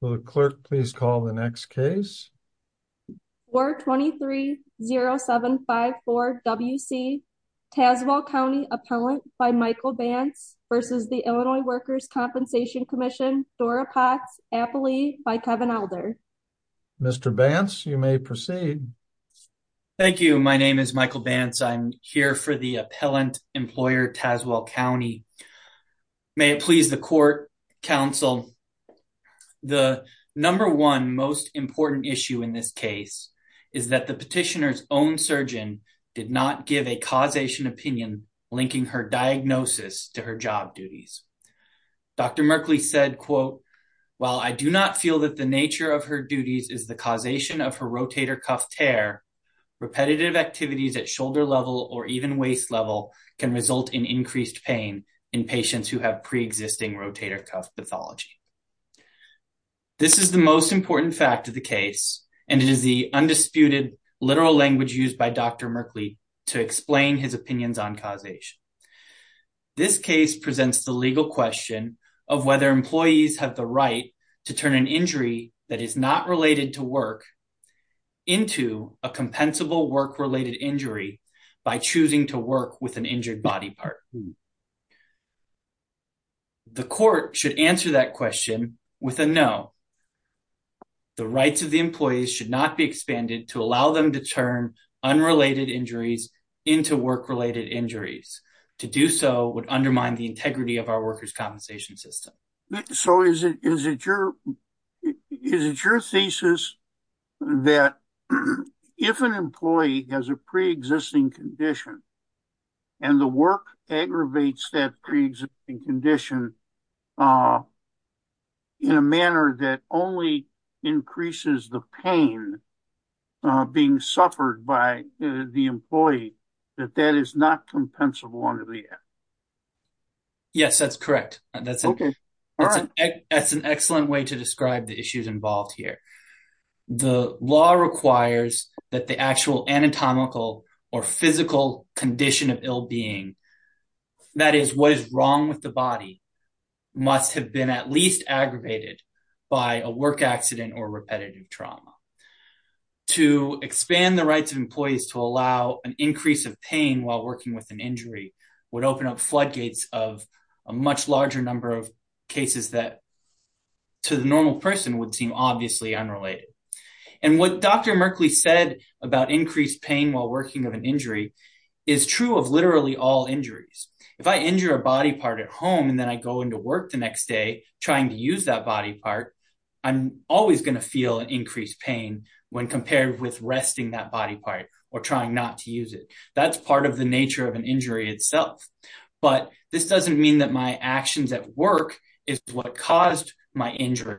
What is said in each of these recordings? Will the clerk please call the next case? 423-0754-WC, Tazewell County Appellant by Michael Bantz v. the Illinois Workers' Compensation Comm'n, Dora Potts, Appalee by Kevin Elder. Mr. Bantz, you may proceed. Thank you. My name is Michael Bantz. I'm here for the Appellant Employer, Tazewell County. May it please the court, counsel. The number one most important issue in this case is that the petitioner's own surgeon did not give a causation opinion linking her diagnosis to her job duties. Dr. Merkley said, quote, while I do not feel that the nature of her duties is the causation of her rotator cuff tear, repetitive activities at shoulder level or even waist level can result in increased pain in patients who have preexisting rotator cuff pathology. This is the most important fact of the case, and it is the undisputed literal language used by Dr. Merkley to explain his opinions on causation. This case presents the legal question of whether employees have the right to turn an injury that is not related to work into a compensable work-related injury by choosing to work with an injured body part. The court should answer that question with a no. The rights of the employees should not be expanded to allow them to turn unrelated injuries into work-related injuries. To do so would undermine the integrity of our workers' compensation system. So is it, is it your, is it your thesis that if an employee has a preexisting condition and the work aggravates that preexisting condition in a manner that only increases the pain being suffered by the employee, that that is not compensable under the act? Yes, that's correct. That's an excellent way to describe the issues involved here. The law requires that the actual anatomical or physical condition of ill being, that is what is wrong with the body, must have been at least aggravated by a work accident or repetitive trauma. To expand the rights of employees to allow an increase of pain while working with an injury would open up floodgates of a much larger number of cases that to the normal person would seem obviously unrelated. And what Dr. Merkley said about increased pain while working with an injury is true of literally all injuries. If I injure a body part at home and then I go into work the next day, trying to use that body part, I'm always going to feel an increased pain when compared with resting that body part or trying not to use it. That's part of the nature of an injury itself. But this doesn't mean that my actions at work is what caused my injury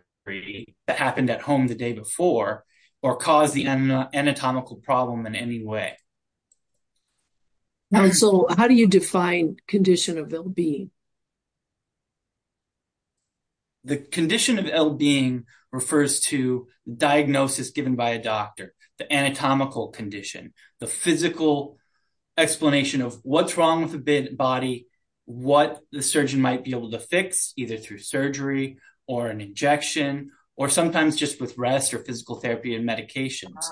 that happened at home the day before or caused the anatomical problem in any way. And so how do you define condition of ill being? The condition of ill being refers to diagnosis given by a doctor, the body, what the surgeon might be able to fix either through surgery or an injection, or sometimes just with rest or physical therapy and medications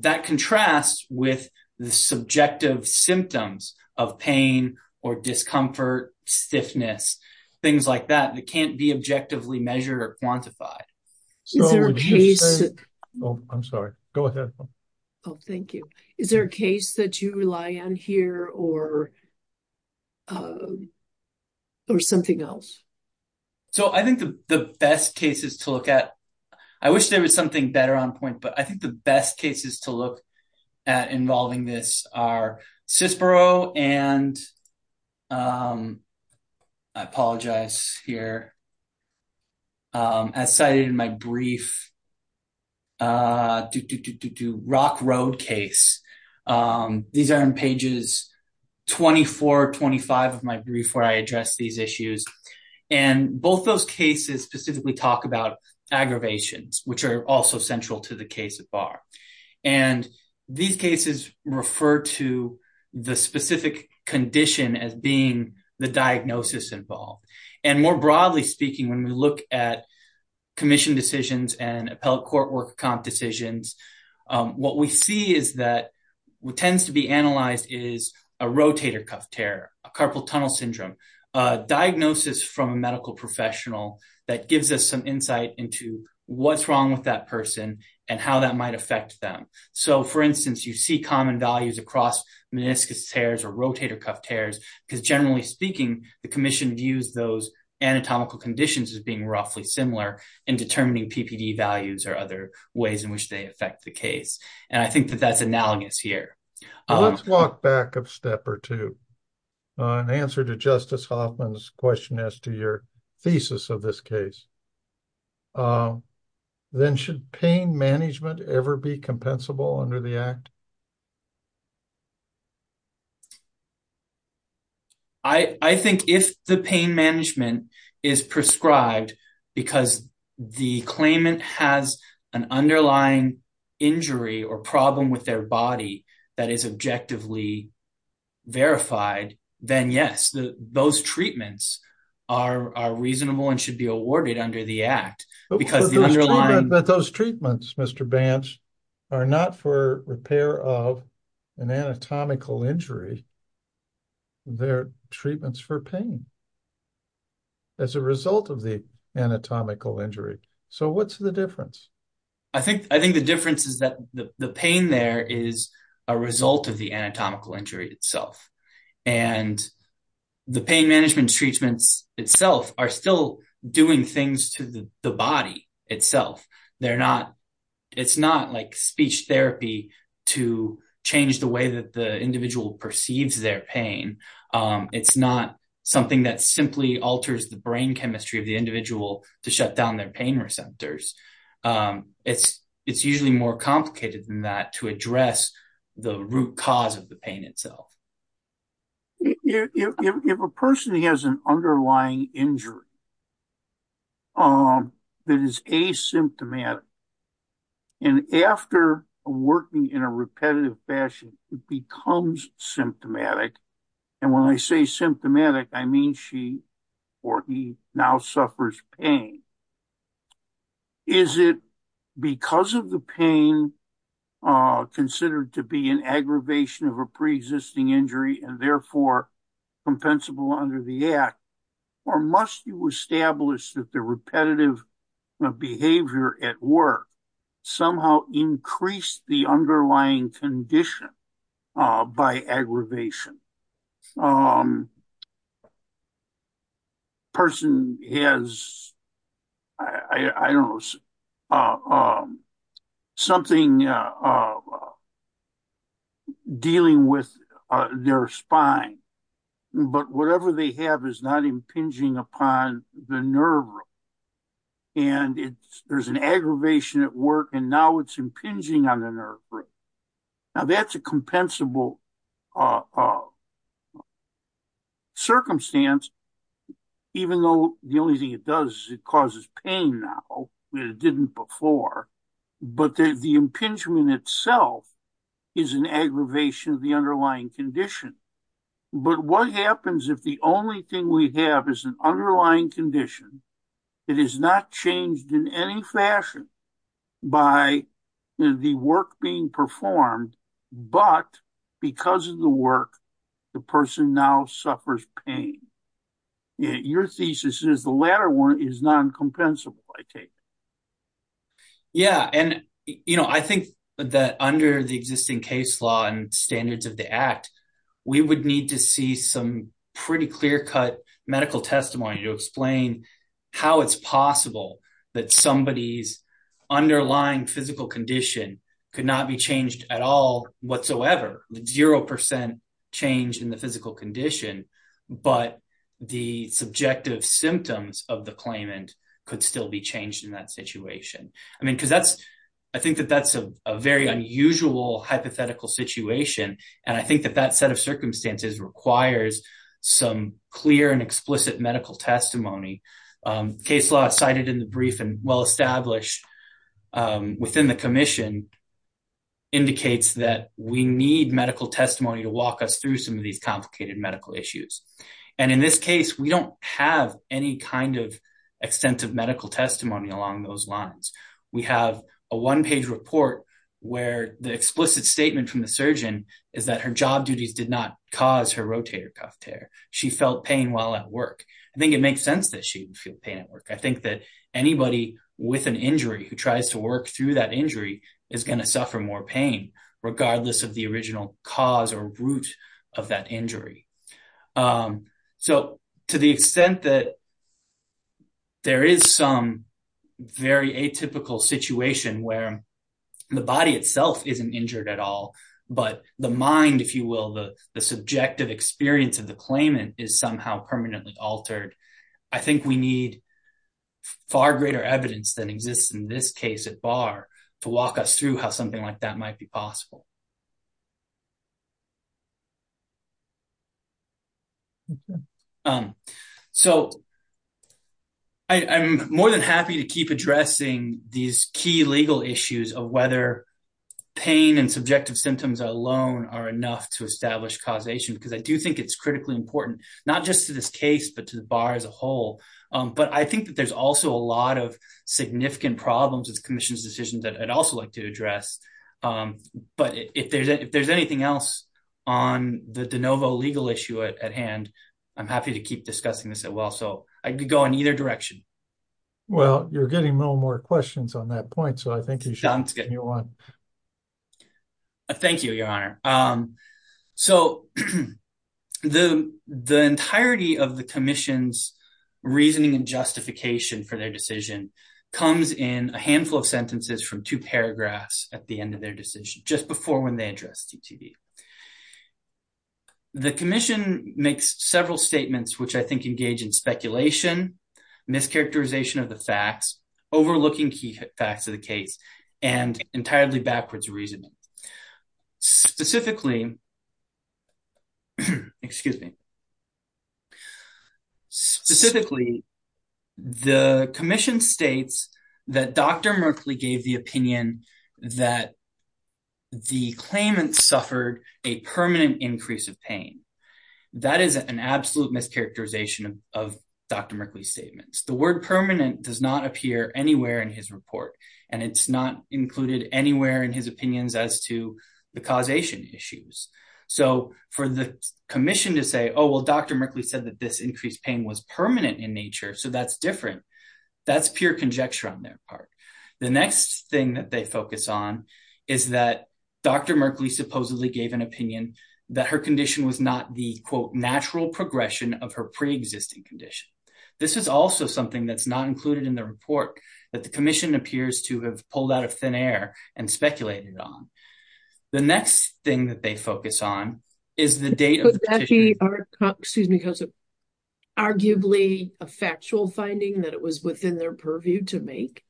that contrasts with the subjective symptoms of pain or discomfort, stiffness, things like that, that can't be objectively measured or quantified. Oh, I'm sorry. Go ahead. Oh, thank you. Is there a case that you rely on here or something else? So I think the best cases to look at, I wish there was something better on point, but I think the best cases to look at involving this are Cicero and, I These are in pages 24, 25 of my brief where I address these issues. And both those cases specifically talk about aggravations, which are also central to the case at bar. And these cases refer to the specific condition as being the diagnosis involved. And more broadly speaking, when we look at commission decisions and appellate what tends to be analyzed is a rotator cuff tear, a carpal tunnel syndrome, a diagnosis from a medical professional that gives us some insight into what's wrong with that person and how that might affect them. So for instance, you see common values across meniscus tears or rotator cuff tears, because generally speaking, the commission views those anatomical conditions as being roughly similar in determining PPD values or other ways in which they affect the case. And I think that that's analogous here. Let's walk back a step or two. In answer to Justice Hoffman's question as to your thesis of this case, then should pain management ever be compensable under the act? I think if the pain management is prescribed because the claimant has an injury or problem with their body that is objectively verified, then yes, those treatments are reasonable and should be awarded under the act. But those treatments, Mr. Banch, are not for repair of an anatomical injury. They're treatments for pain as a result of the anatomical injury. So what's the difference? I think the difference is that the pain there is a result of the anatomical injury itself, and the pain management treatments itself are still doing things to the body itself. It's not like speech therapy to change the way that the individual perceives their pain. It's not something that simply alters the brain chemistry of the individual to shut down their pain receptors. It's usually more complicated than that to address the root cause of the pain itself. If a person has an underlying injury. That is asymptomatic. And after working in a repetitive fashion, it becomes symptomatic. And when I say symptomatic, I mean she or he now suffers pain. Is it because of the pain considered to be an aggravation of a pre-existing injury and therefore compensable under the act, or must you establish that the repetitive behavior at work somehow increased the underlying condition by aggravation? A person has, I don't know, something dealing with their spine, but whatever they have is not impinging upon the nerve room. And there's an aggravation at work, and now it's impinging on the nerve room. Now, that's a compensable circumstance, even though the only thing it does is it causes pain now, it didn't before. But the impingement itself is an aggravation of the underlying condition. But what happens if the only thing we have is an underlying condition that is not changed in any fashion by the work being performed, but because of the work, the person now suffers pain? Your thesis is the latter one is non-compensable, I take it. Yeah, and I think that under the existing case law and standards of the act, we would need to see some pretty clear-cut medical testimony to explain how it's possible that somebody's underlying physical condition could not be changed at all whatsoever, zero percent change in the physical condition. But the subjective symptoms of the claimant could still be changed in that situation. I mean, because that's I think that that's a very unusual hypothetical situation. And I think that that set of circumstances requires some clear and explicit medical testimony. Case law cited in the brief and well-established within the commission indicates that we need medical testimony to walk us through some of these complicated medical issues. And in this case, we don't have any kind of extensive medical testimony along those lines. We have a one page report where the explicit statement from the surgeon is that her job duties did not cause her rotator cuff tear. She felt pain while at work. I think it makes sense that she would feel pain at work. I think that anybody with an injury who tries to work through that injury is going to suffer more pain regardless of the original cause or root of that injury. So to the extent that. There is some very atypical situation where the body itself isn't injured at all, but the mind, if you will, the subjective experience of the claimant is somehow permanently altered. I think we need far greater evidence than exists in this case at bar to walk us through how something like that might be possible. OK, so. I'm more than happy to keep addressing these key legal issues of whether pain and subjective symptoms alone are enough to establish causation, because I do think it's critically important not just to this case, but to the bar as a whole. But I think that there's also a lot of significant problems with the commission's decisions that I'd also like to address. But if there's anything else on the DeNovo legal issue at hand, I'm happy to keep discussing this as well. So I could go in either direction. Well, you're getting no more questions on that point, so I think you should continue on. Thank you, Your Honor. So the the entirety of the commission's reasoning and justification for their decision comes in a handful of sentences from two paragraphs at the end of their decision, just before when they address TTV. The commission makes several statements which I think engage in speculation, mischaracterization of the facts, overlooking key facts of the case and entirely backwards reasoning. Specifically. Excuse me. Specifically, the commission states that Dr. Merkley gave the opinion that the claimant suffered a permanent increase of pain. That is an absolute mischaracterization of Dr. Merkley's statements. The word permanent does not appear anywhere in his report, and it's not included anywhere in his opinions as to the causation issues. So for the commission to say, oh, well, Dr. Merkley said that this increased pain was permanent in nature. So that's different. That's pure conjecture on their part. The next thing that they focus on is that Dr. Merkley supposedly gave an opinion that her condition was not the, quote, natural progression of her preexisting condition. This is also something that's not included in the report that the commission appears to have pulled out of thin air and speculated on. The next thing that they focus on is the date of the petition. Could that be, excuse me, arguably a factual finding that it was within their purview to make?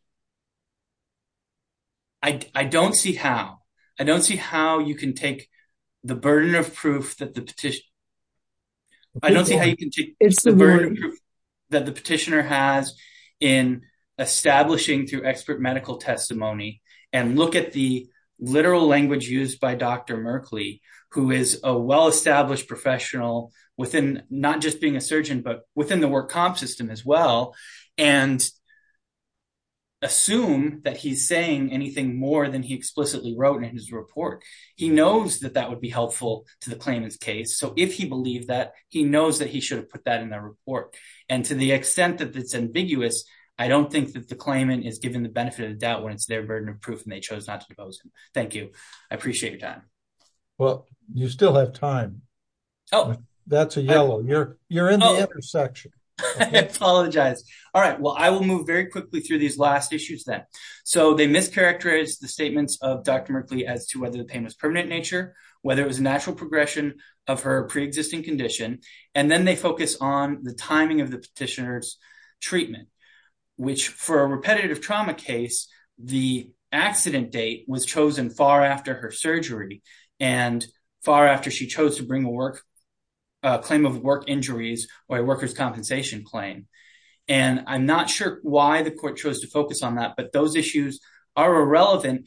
I don't see how. I don't see how you can take the burden of proof that the petitioner has in establishing through expert medical testimony and look at the literal language used by Dr. Merkley, who is a well-established professional within not just being a surgeon, but within the work comp system as well, and assume that he's saying anything more than he explicitly wrote in his report. He knows that that would be helpful to the claimant's case. So if he believed that, he knows that he should have put that in the report. And to the extent that it's ambiguous, I don't think that the claimant is given the benefit of the doubt when it's their burden of proof and they chose not to depose him. Thank you. I appreciate your time. Well, you still have time. Oh, that's a yellow. You're you're in the intersection. I apologize. All right. Well, I will move very quickly through these last issues then. So they mischaracterize the statements of Dr. Merkley as to whether the pain was permanent in nature, whether it was a natural progression of her pre-existing condition. And then they focus on the timing of the petitioner's treatment, which for a repetitive trauma case, the accident date was chosen far after her surgery and far after she chose to bring a work claim of work injuries or a worker's compensation claim. And I'm not sure why the court chose to focus on that, but those issues are her mind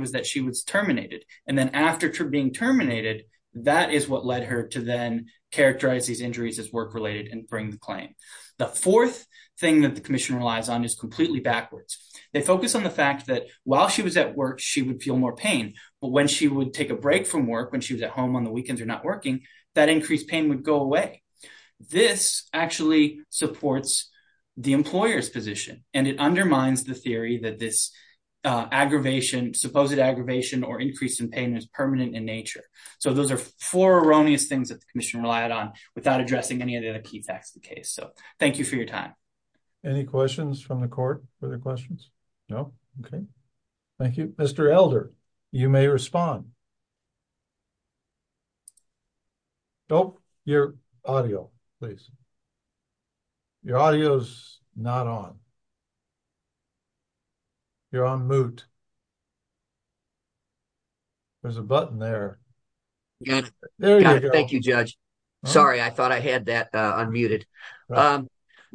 was that she was terminated. And then after being terminated, that is what led her to then characterize these injuries as work related and bring the claim. The fourth thing that the commission relies on is completely backwards. They focus on the fact that while she was at work, she would feel more pain. But when she would take a break from work, when she was at home on the weekends or not working, that increased pain would go away. This actually supports the employer's position and it undermines the theory that this aggravation, supposed aggravation or increase in pain is permanent in nature. So those are four erroneous things that the commission relied on without addressing any of the other key facts of the case. So thank you for your time. Any questions from the court for their questions? No. OK, thank you, Mr. Elder. You may respond. Nope, your audio, please. Your audio is not on. You're on mute. There's a button there. Yes, thank you, Judge. Sorry, I thought I had that unmuted.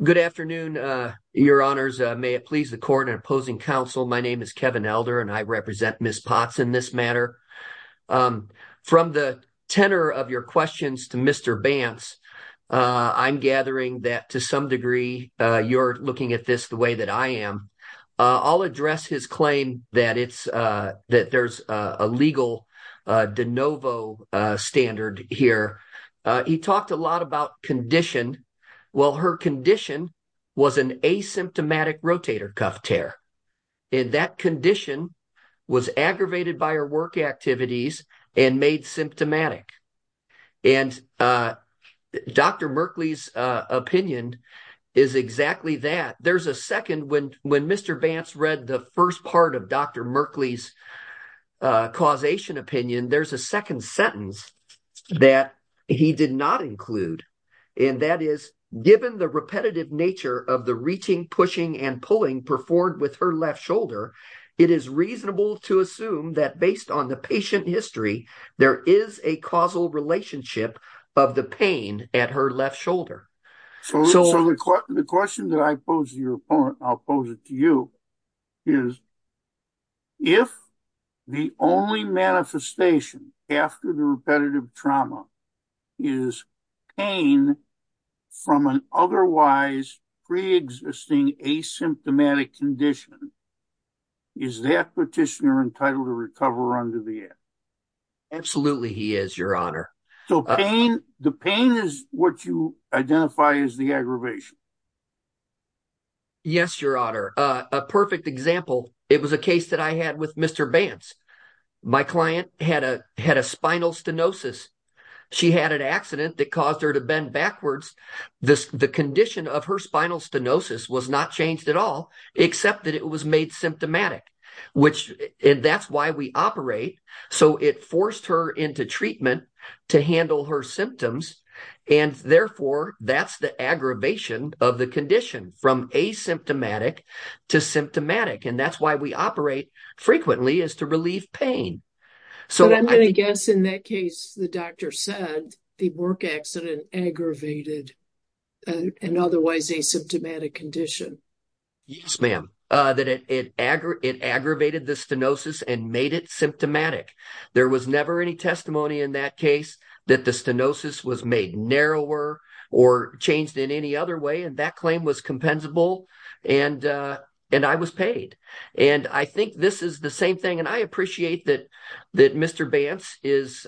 Good afternoon, your honors, may it please the court and opposing counsel. My name is Kevin Elder and I represent Miss Potts in this matter. From the tenor of your questions to Mr. Bantz, I'm gathering that to some degree you're looking at this the way that I am. I'll address his claim that it's that there's a legal de novo standard here. He talked a lot about condition. Well, her condition was an asymptomatic rotator cuff tear. And that condition was aggravated by her work activities and made symptomatic. And Dr. Merkley's opinion is exactly that. There's a second when when Mr. Bantz read the first part of Dr. Merkley's causation opinion, there's a second sentence that he did not include. And that is given the repetitive nature of the reaching, pushing and pulling performed with her left shoulder. It is reasonable to assume that based on the patient history, there is a causal relationship of the pain at her left shoulder. So the question that I pose to your opponent, I'll pose it to you, is. If the only manifestation after the repetitive trauma is pain from an otherwise preexisting asymptomatic condition. Is that petitioner entitled to recover under the air? Absolutely, he is, your honor. So pain, the pain is what you identify as the aggravation. Yes, your honor, a perfect example, it was a case that I had with Mr. Bantz, my client had a had a spinal stenosis. She had an accident that caused her to bend backwards. This the condition of her spinal stenosis was not changed at all, except that it was made symptomatic, which that's why we operate. So it forced her into treatment to handle her symptoms. And therefore that's the aggravation of the condition from asymptomatic to symptomatic. And that's why we operate frequently is to relieve pain. So I'm going to guess in that case, the doctor said the work accident aggravated an otherwise asymptomatic condition. Yes, ma'am, that it it it aggravated the stenosis and made it symptomatic. There was never any testimony in that case that the stenosis was made narrower or changed in any other way. And that claim was compensable. And and I was paid. And I think this is the same thing. And I appreciate that that Mr. Bantz is,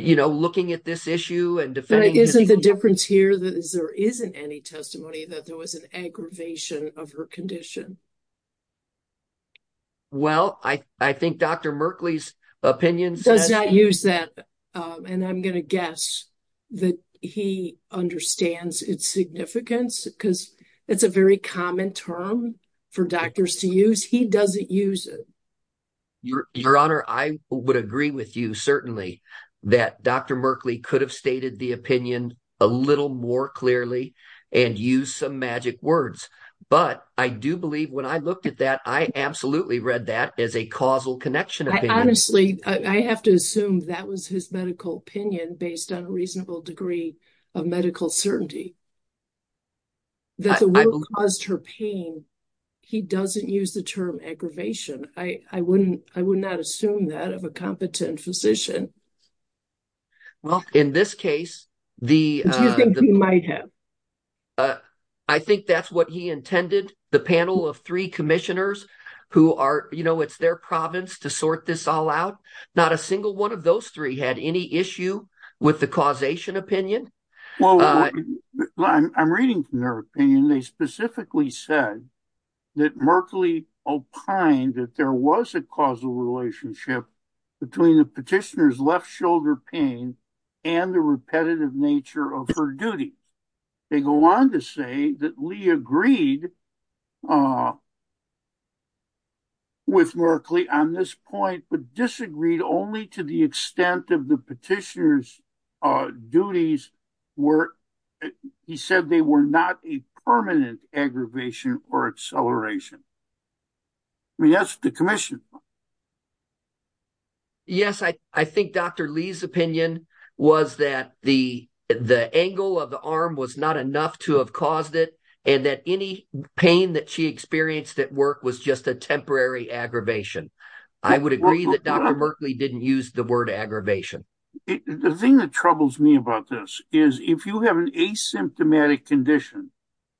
you know, looking at this issue and defending. Isn't the difference here that is there isn't any testimony that there was an aggravation of her condition? Well, I I think Dr. Merkley's opinion does not use that. And I'm going to guess that he understands its significance because it's a very common term for doctors to use. He doesn't use it. Your Honor, I would agree with you, certainly, that Dr. Merkley could have stated the opinion a little more clearly and use some magic words. But I do believe when I looked at that, I absolutely read that as a causal connection. Honestly, I have to assume that was his medical opinion based on a reasonable degree of medical certainty. That's what caused her pain. He doesn't use the term aggravation. I wouldn't I would not assume that of a competent physician. Well, in this case, the you might have. I think that's what he intended. The panel of three commissioners who are, you know, it's their province to sort this all out. Not a single one of those three had any issue with the causation opinion. Well, I'm reading from their opinion. They specifically said that Merkley opined that there was a causal relationship between the petitioner's left shoulder pain and the repetitive nature of her duty. They go on to say that Lee agreed. With Merkley on this point, but disagreed only to the extent of the petitioner's duties were he said they were not a permanent aggravation or acceleration. I mean, that's the commission. Yes, I think Dr. Lee's opinion was that the the angle of the arm was not enough to have caused it and that any pain that she experienced at work was just a temporary aggravation. I would agree that Dr. Merkley didn't use the word aggravation. The thing that troubles me about this is if you have an asymptomatic condition,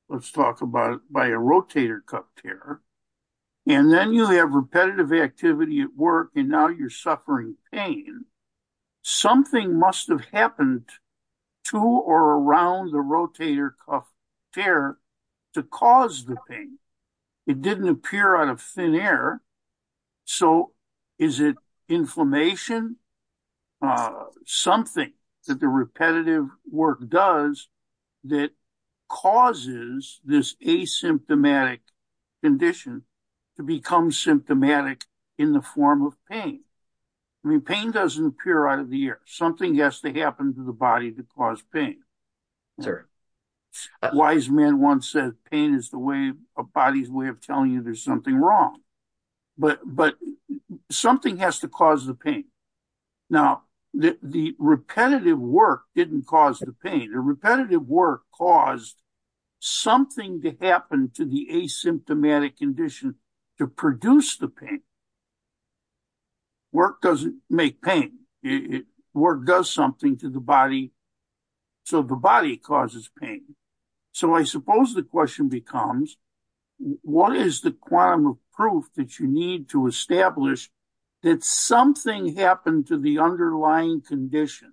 let's talk about it by a rotator cuff tear. And then you have repetitive activity at work and now you're suffering pain. Something must have happened to or around the rotator cuff tear to cause the pain. It didn't appear out of thin air. So is it inflammation? Something that the repetitive work does that causes this asymptomatic condition to become symptomatic in the form of pain? I mean, pain doesn't appear out of the air. Something has to happen to the body to cause pain. Wise men once said pain is the way a body's way of telling you there's something wrong. But but something has to cause the pain. Now, the repetitive work didn't cause the pain. The repetitive work caused something to happen to the asymptomatic condition to produce the pain. Work doesn't make pain, work does something to the body. So the body causes pain. So I suppose the question becomes, what is the quantum of proof that you need to establish that something happened to the underlying condition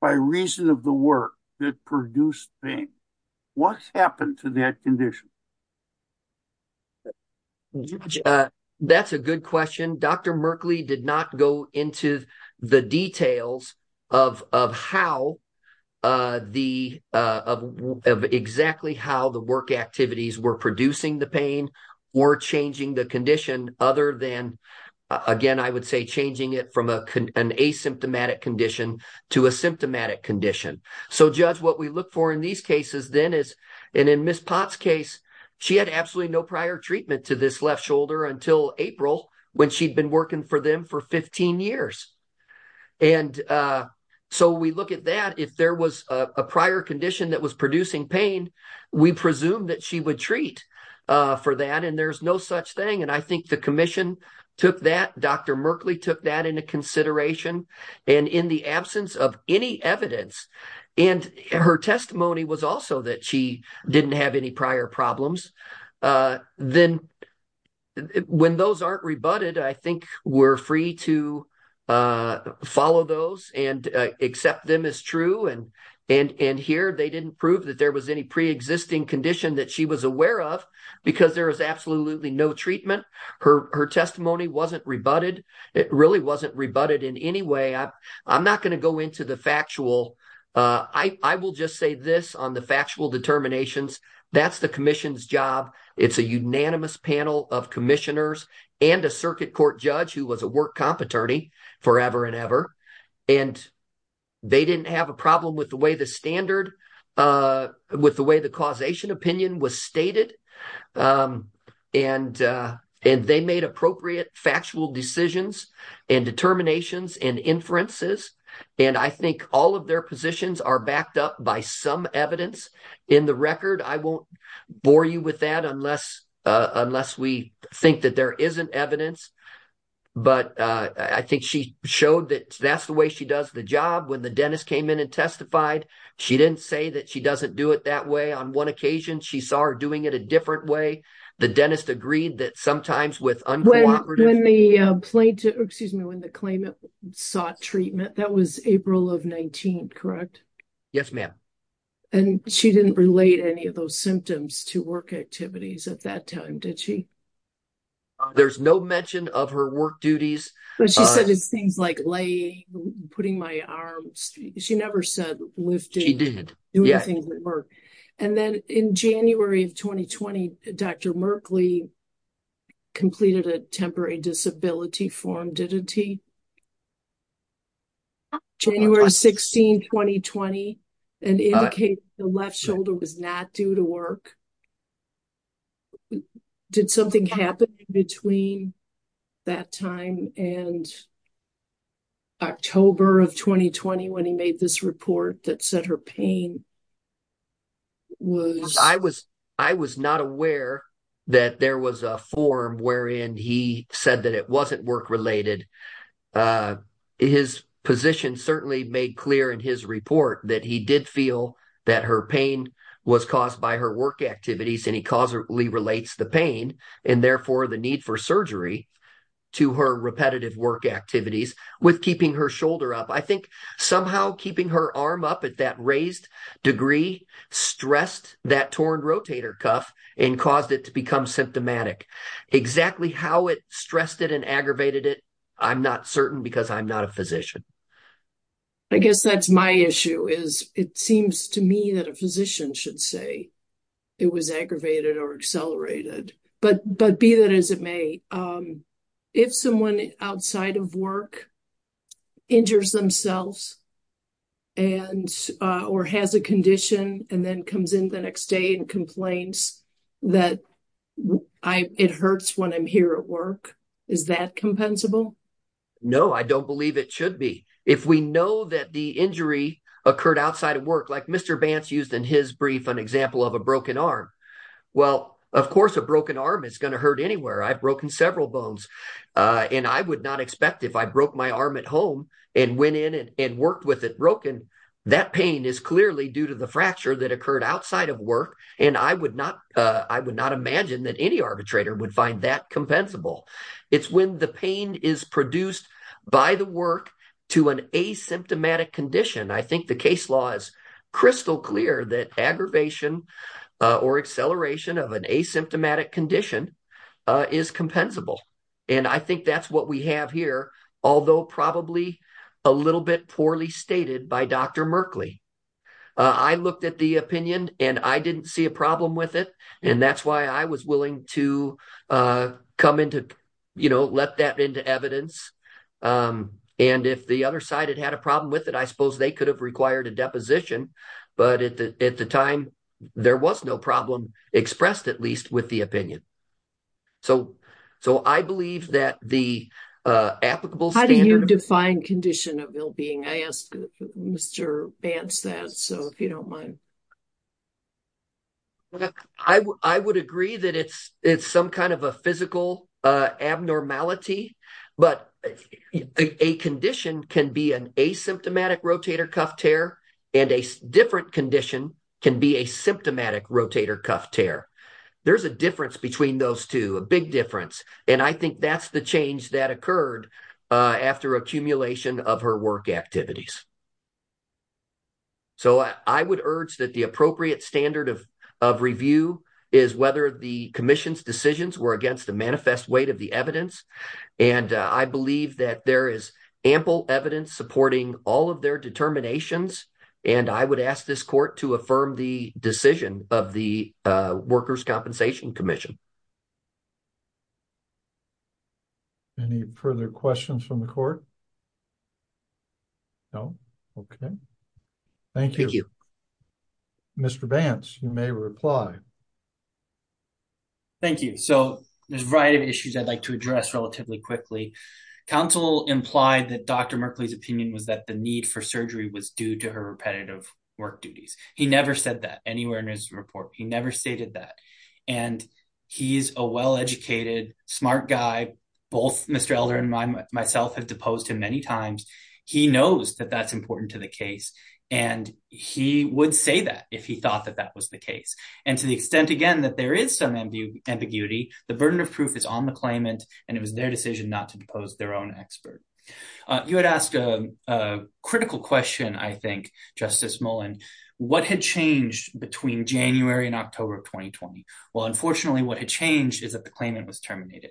by reason of the work that produced pain? What happened to that condition? That's a good question. Dr. Merkley did not go into the details of how the of exactly how the work activities were producing the pain or changing the condition. Other than, again, I would say changing it from an asymptomatic condition to a symptomatic condition. So, Judge, what we look for in these cases then is in Miss Potts case, she had absolutely no prior treatment to this left shoulder until April when she'd been working for them for 15 years. And so we look at that. If there was a prior condition that was producing pain, we presume that she would treat for that. And there's no such thing. And I think the commission took that. Dr. Merkley took that into consideration. And in the absence of any evidence, and her testimony was also that she didn't have any prior problems, then when those aren't rebutted, I think we're free to follow those and accept them as true. And here they didn't prove that there was any preexisting condition that she was aware of because there is absolutely no treatment. Her testimony wasn't rebutted. It really wasn't rebutted in any way. I'm not going to go into the factual. I will just say this on the factual determinations. That's the commission's job. It's a unanimous panel of commissioners and a circuit court judge who was a work comp attorney forever and ever. And they didn't have a problem with the way the standard, with the way the causation opinion was stated, and they made appropriate factual decisions and determinations and inferences. And I think all of their positions are backed up by some evidence in the record. I won't bore you with that unless we think that there isn't evidence. But I think she showed that that's the way she does the job when the dentist came in and testified, she didn't say that she doesn't do it that way. On one occasion, she saw her doing it a different way. The dentist agreed that sometimes with the plaintiff, excuse me, when the claimant sought treatment, that was April of 19, correct? Yes, ma'am. And she didn't relate any of those symptoms to work activities at that time, did she? There's no mention of her work duties, but she said, it's things like laying, putting my arms. She never said lifting. She didn't do anything with work. And then in January of 2020, Dr. Merkley completed a temporary disability form, didn't he? January 16, 2020 and indicate the left shoulder was not due to work. Did something happen between. That time and October of 2020, when he made this report that said her pain. Was I was I was not aware. That there was a form wherein he said that it wasn't work related, uh, his position certainly made clear in his report that he did feel. That her pain was caused by her work activities, and he causally relates the pain and therefore the need for surgery to her repetitive work activities with keeping her shoulder up. I think somehow keeping her arm up at that raised degree stressed that torn rotator cuff and caused it to become symptomatic exactly how it stressed it and aggravated it. I'm not certain because I'm not a physician. I guess that's my issue is it seems to me that a physician should say. It was aggravated or accelerated, but but be that as it may. If someone outside of work injures themselves. And, or has a condition and then comes in the next day and complains. That I, it hurts when I'm here at work. Is that compensable? No, I don't believe it should be. If we know that the injury occurred outside of work, like Mr. Bantz used in his brief, an example of a broken arm. Well, of course, a broken arm is going to hurt anywhere. I've broken several bones and I would not expect if I broke my arm at home and went in and worked with it broken. That pain is clearly due to the fracture that occurred outside of work. And I would not, I would not imagine that any arbitrator would find that compensable. It's when the pain is produced by the work to an asymptomatic condition. I think the case law is crystal clear that aggravation. Or acceleration of an asymptomatic condition is compensable. And I think that's what we have here. Although probably a little bit poorly stated by Dr. Merkley. I looked at the opinion and I didn't see a problem with it. And that's why I was willing to come into, you know, let that into evidence. And if the other side had had a problem with it, I suppose they could have required a deposition. But at the time, there was no problem expressed, at least with the opinion. So I believe that the applicable standard. How do you define condition of ill-being? I asked Mr. Bantz that, so if you don't mind. I would agree that it's some kind of a physical abnormality. But a condition can be an asymptomatic rotator cuff tear. And a different condition can be a symptomatic rotator cuff tear. There's a difference between those two, a big difference. And I think that's the change that occurred after accumulation of her work activities. So I would urge that the appropriate standard of review is whether the commission's decisions were against the manifest weight of the evidence. And I believe that there is ample evidence supporting all of their determinations. And I would ask this court to affirm the decision of the Workers' Compensation Commission. Any further questions from the court? No? Okay. Thank you. Mr. Bantz, you may reply. Thank you. So there's a variety of issues I'd like to address relatively quickly. Counsel implied that Dr. Merkley's opinion was that the need for surgery was due to her repetitive work duties. He never said that anywhere in his report. He never stated that. And he's a well-educated, smart guy. Both Mr. Elder and myself have deposed him many times. He knows that that's important to the case. And he would say that if he thought that that was the case. And to the extent, again, that there is some ambiguity, the burden of proof is on the claimant. And it was their decision not to depose their own expert. You had asked a critical question, I think, Justice Mullen. What had changed between January and October of 2020? Well, unfortunately, what had changed is that the claimant was terminated.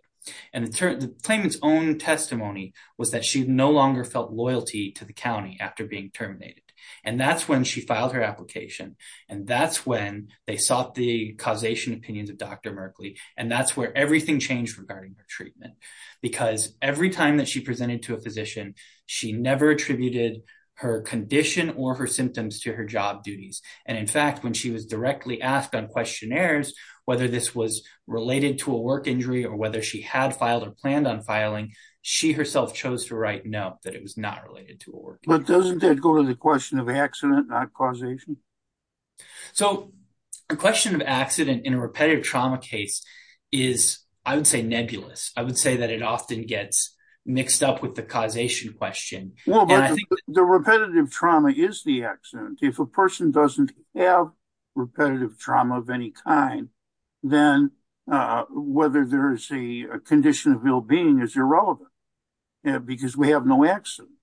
And the claimant's own testimony was that she no longer felt loyalty to the county after being terminated. And that's when she filed her application. And that's when they sought the causation opinions of Dr. Merkley. And that's where everything changed regarding her treatment. Because every time that she presented to a physician, she never attributed her condition or her symptoms to her job duties. And in fact, when she was directly asked on questionnaires, whether this was related to a work injury or whether she had filed or planned on filing, she herself chose to write no, that it was not related to a work injury. But doesn't that go to the question of accident, not causation? So the question of accident in a repetitive trauma case is, I would say, nebulous. I would say that it often gets mixed up with the causation question. The repetitive trauma is the accident. If a person doesn't have repetitive trauma of any kind, then whether there is a condition of ill-being is irrelevant because we have no accident.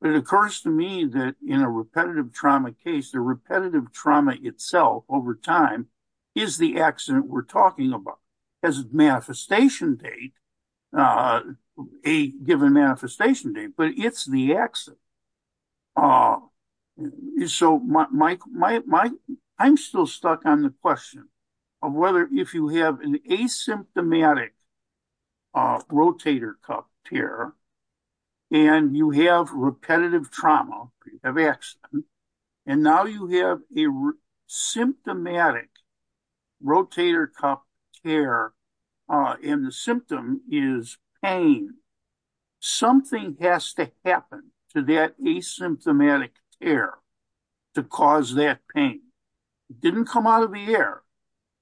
But it occurs to me that in a repetitive trauma case, the repetitive trauma itself over time is the accident we're talking about. As a manifestation date, a given manifestation date, but it's the accident. So I'm still stuck on the question of whether if you have an asymptomatic rotator cuff tear and you have repetitive trauma of accident, and now you have a symptomatic rotator cuff tear and the symptom is pain, something has to happen to that asymptomatic tear to cause that pain. It didn't come out of the air.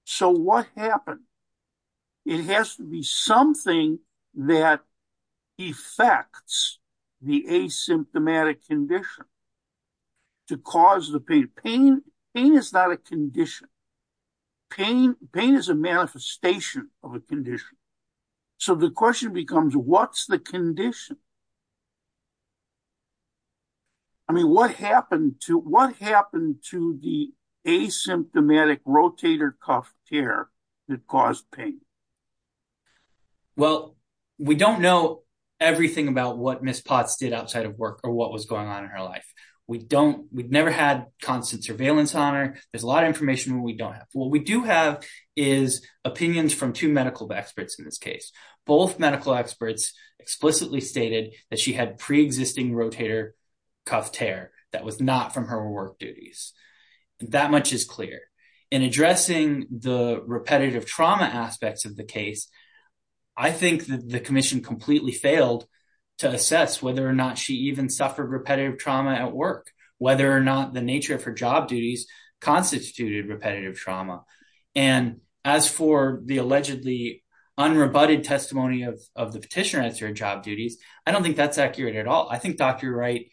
So what happened? It has to be something that affects the asymptomatic condition to cause the pain. Pain is not a condition. Pain is a manifestation of a condition. So the question becomes, what's the condition? I mean, what happened to the asymptomatic rotator cuff tear that caused pain? Well, we don't know everything about what Ms. Potts did outside of work or what was going on in her life. We've never had constant surveillance on her. There's a lot of information we don't have. What we do have is opinions from two medical experts in this case. Both medical experts explicitly stated that she had pre-existing rotator cuff tear that was not from her work duties. That much is clear. In addressing the repetitive trauma aspects of the case, I think that the commission completely failed to assess whether or not she even suffered repetitive trauma at work, whether or not the nature of her job duties constituted repetitive trauma. And as for the allegedly unrebutted testimony of the petitioner as her job duties, I don't think that's accurate at all. I think Dr. Wright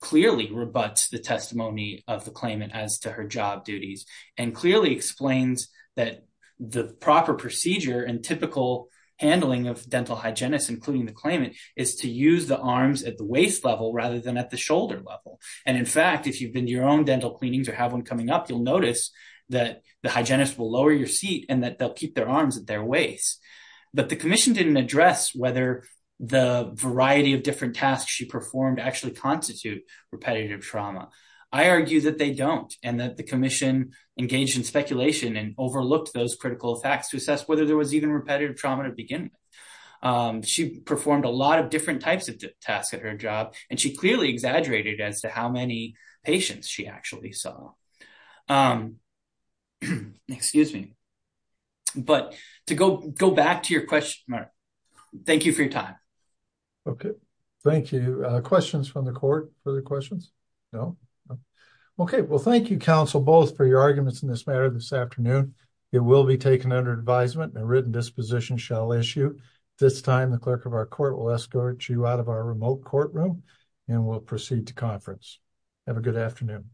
clearly rebuts the testimony of the claimant as to her job duties and clearly explains that the proper procedure and typical handling of dental hygienists, including the claimant, is to use the arms at the waist level rather than at the shoulder level. And in fact, if you've been to your own dental cleanings or have one coming up, you'll notice that the hygienist will lower your seat and that they'll keep their arms at their waist. But the commission didn't address whether the variety of different tasks she performed actually constitute repetitive trauma. I argue that they don't and that the commission engaged in speculation and overlooked those critical facts to assess whether there was even repetitive trauma to begin with. She performed a lot of different types of tasks at her job, and she clearly exaggerated as to how many patients she actually saw. Excuse me. But to go back to your question, Mark, thank you for your time. OK, thank you. Questions from the court? Further questions? No? OK, well, thank you, counsel, both for your arguments in this matter this afternoon. It will be taken under advisement and a written disposition shall issue. This time, the clerk of our court will escort you out of our remote courtroom and we'll proceed to conference. Have a good afternoon.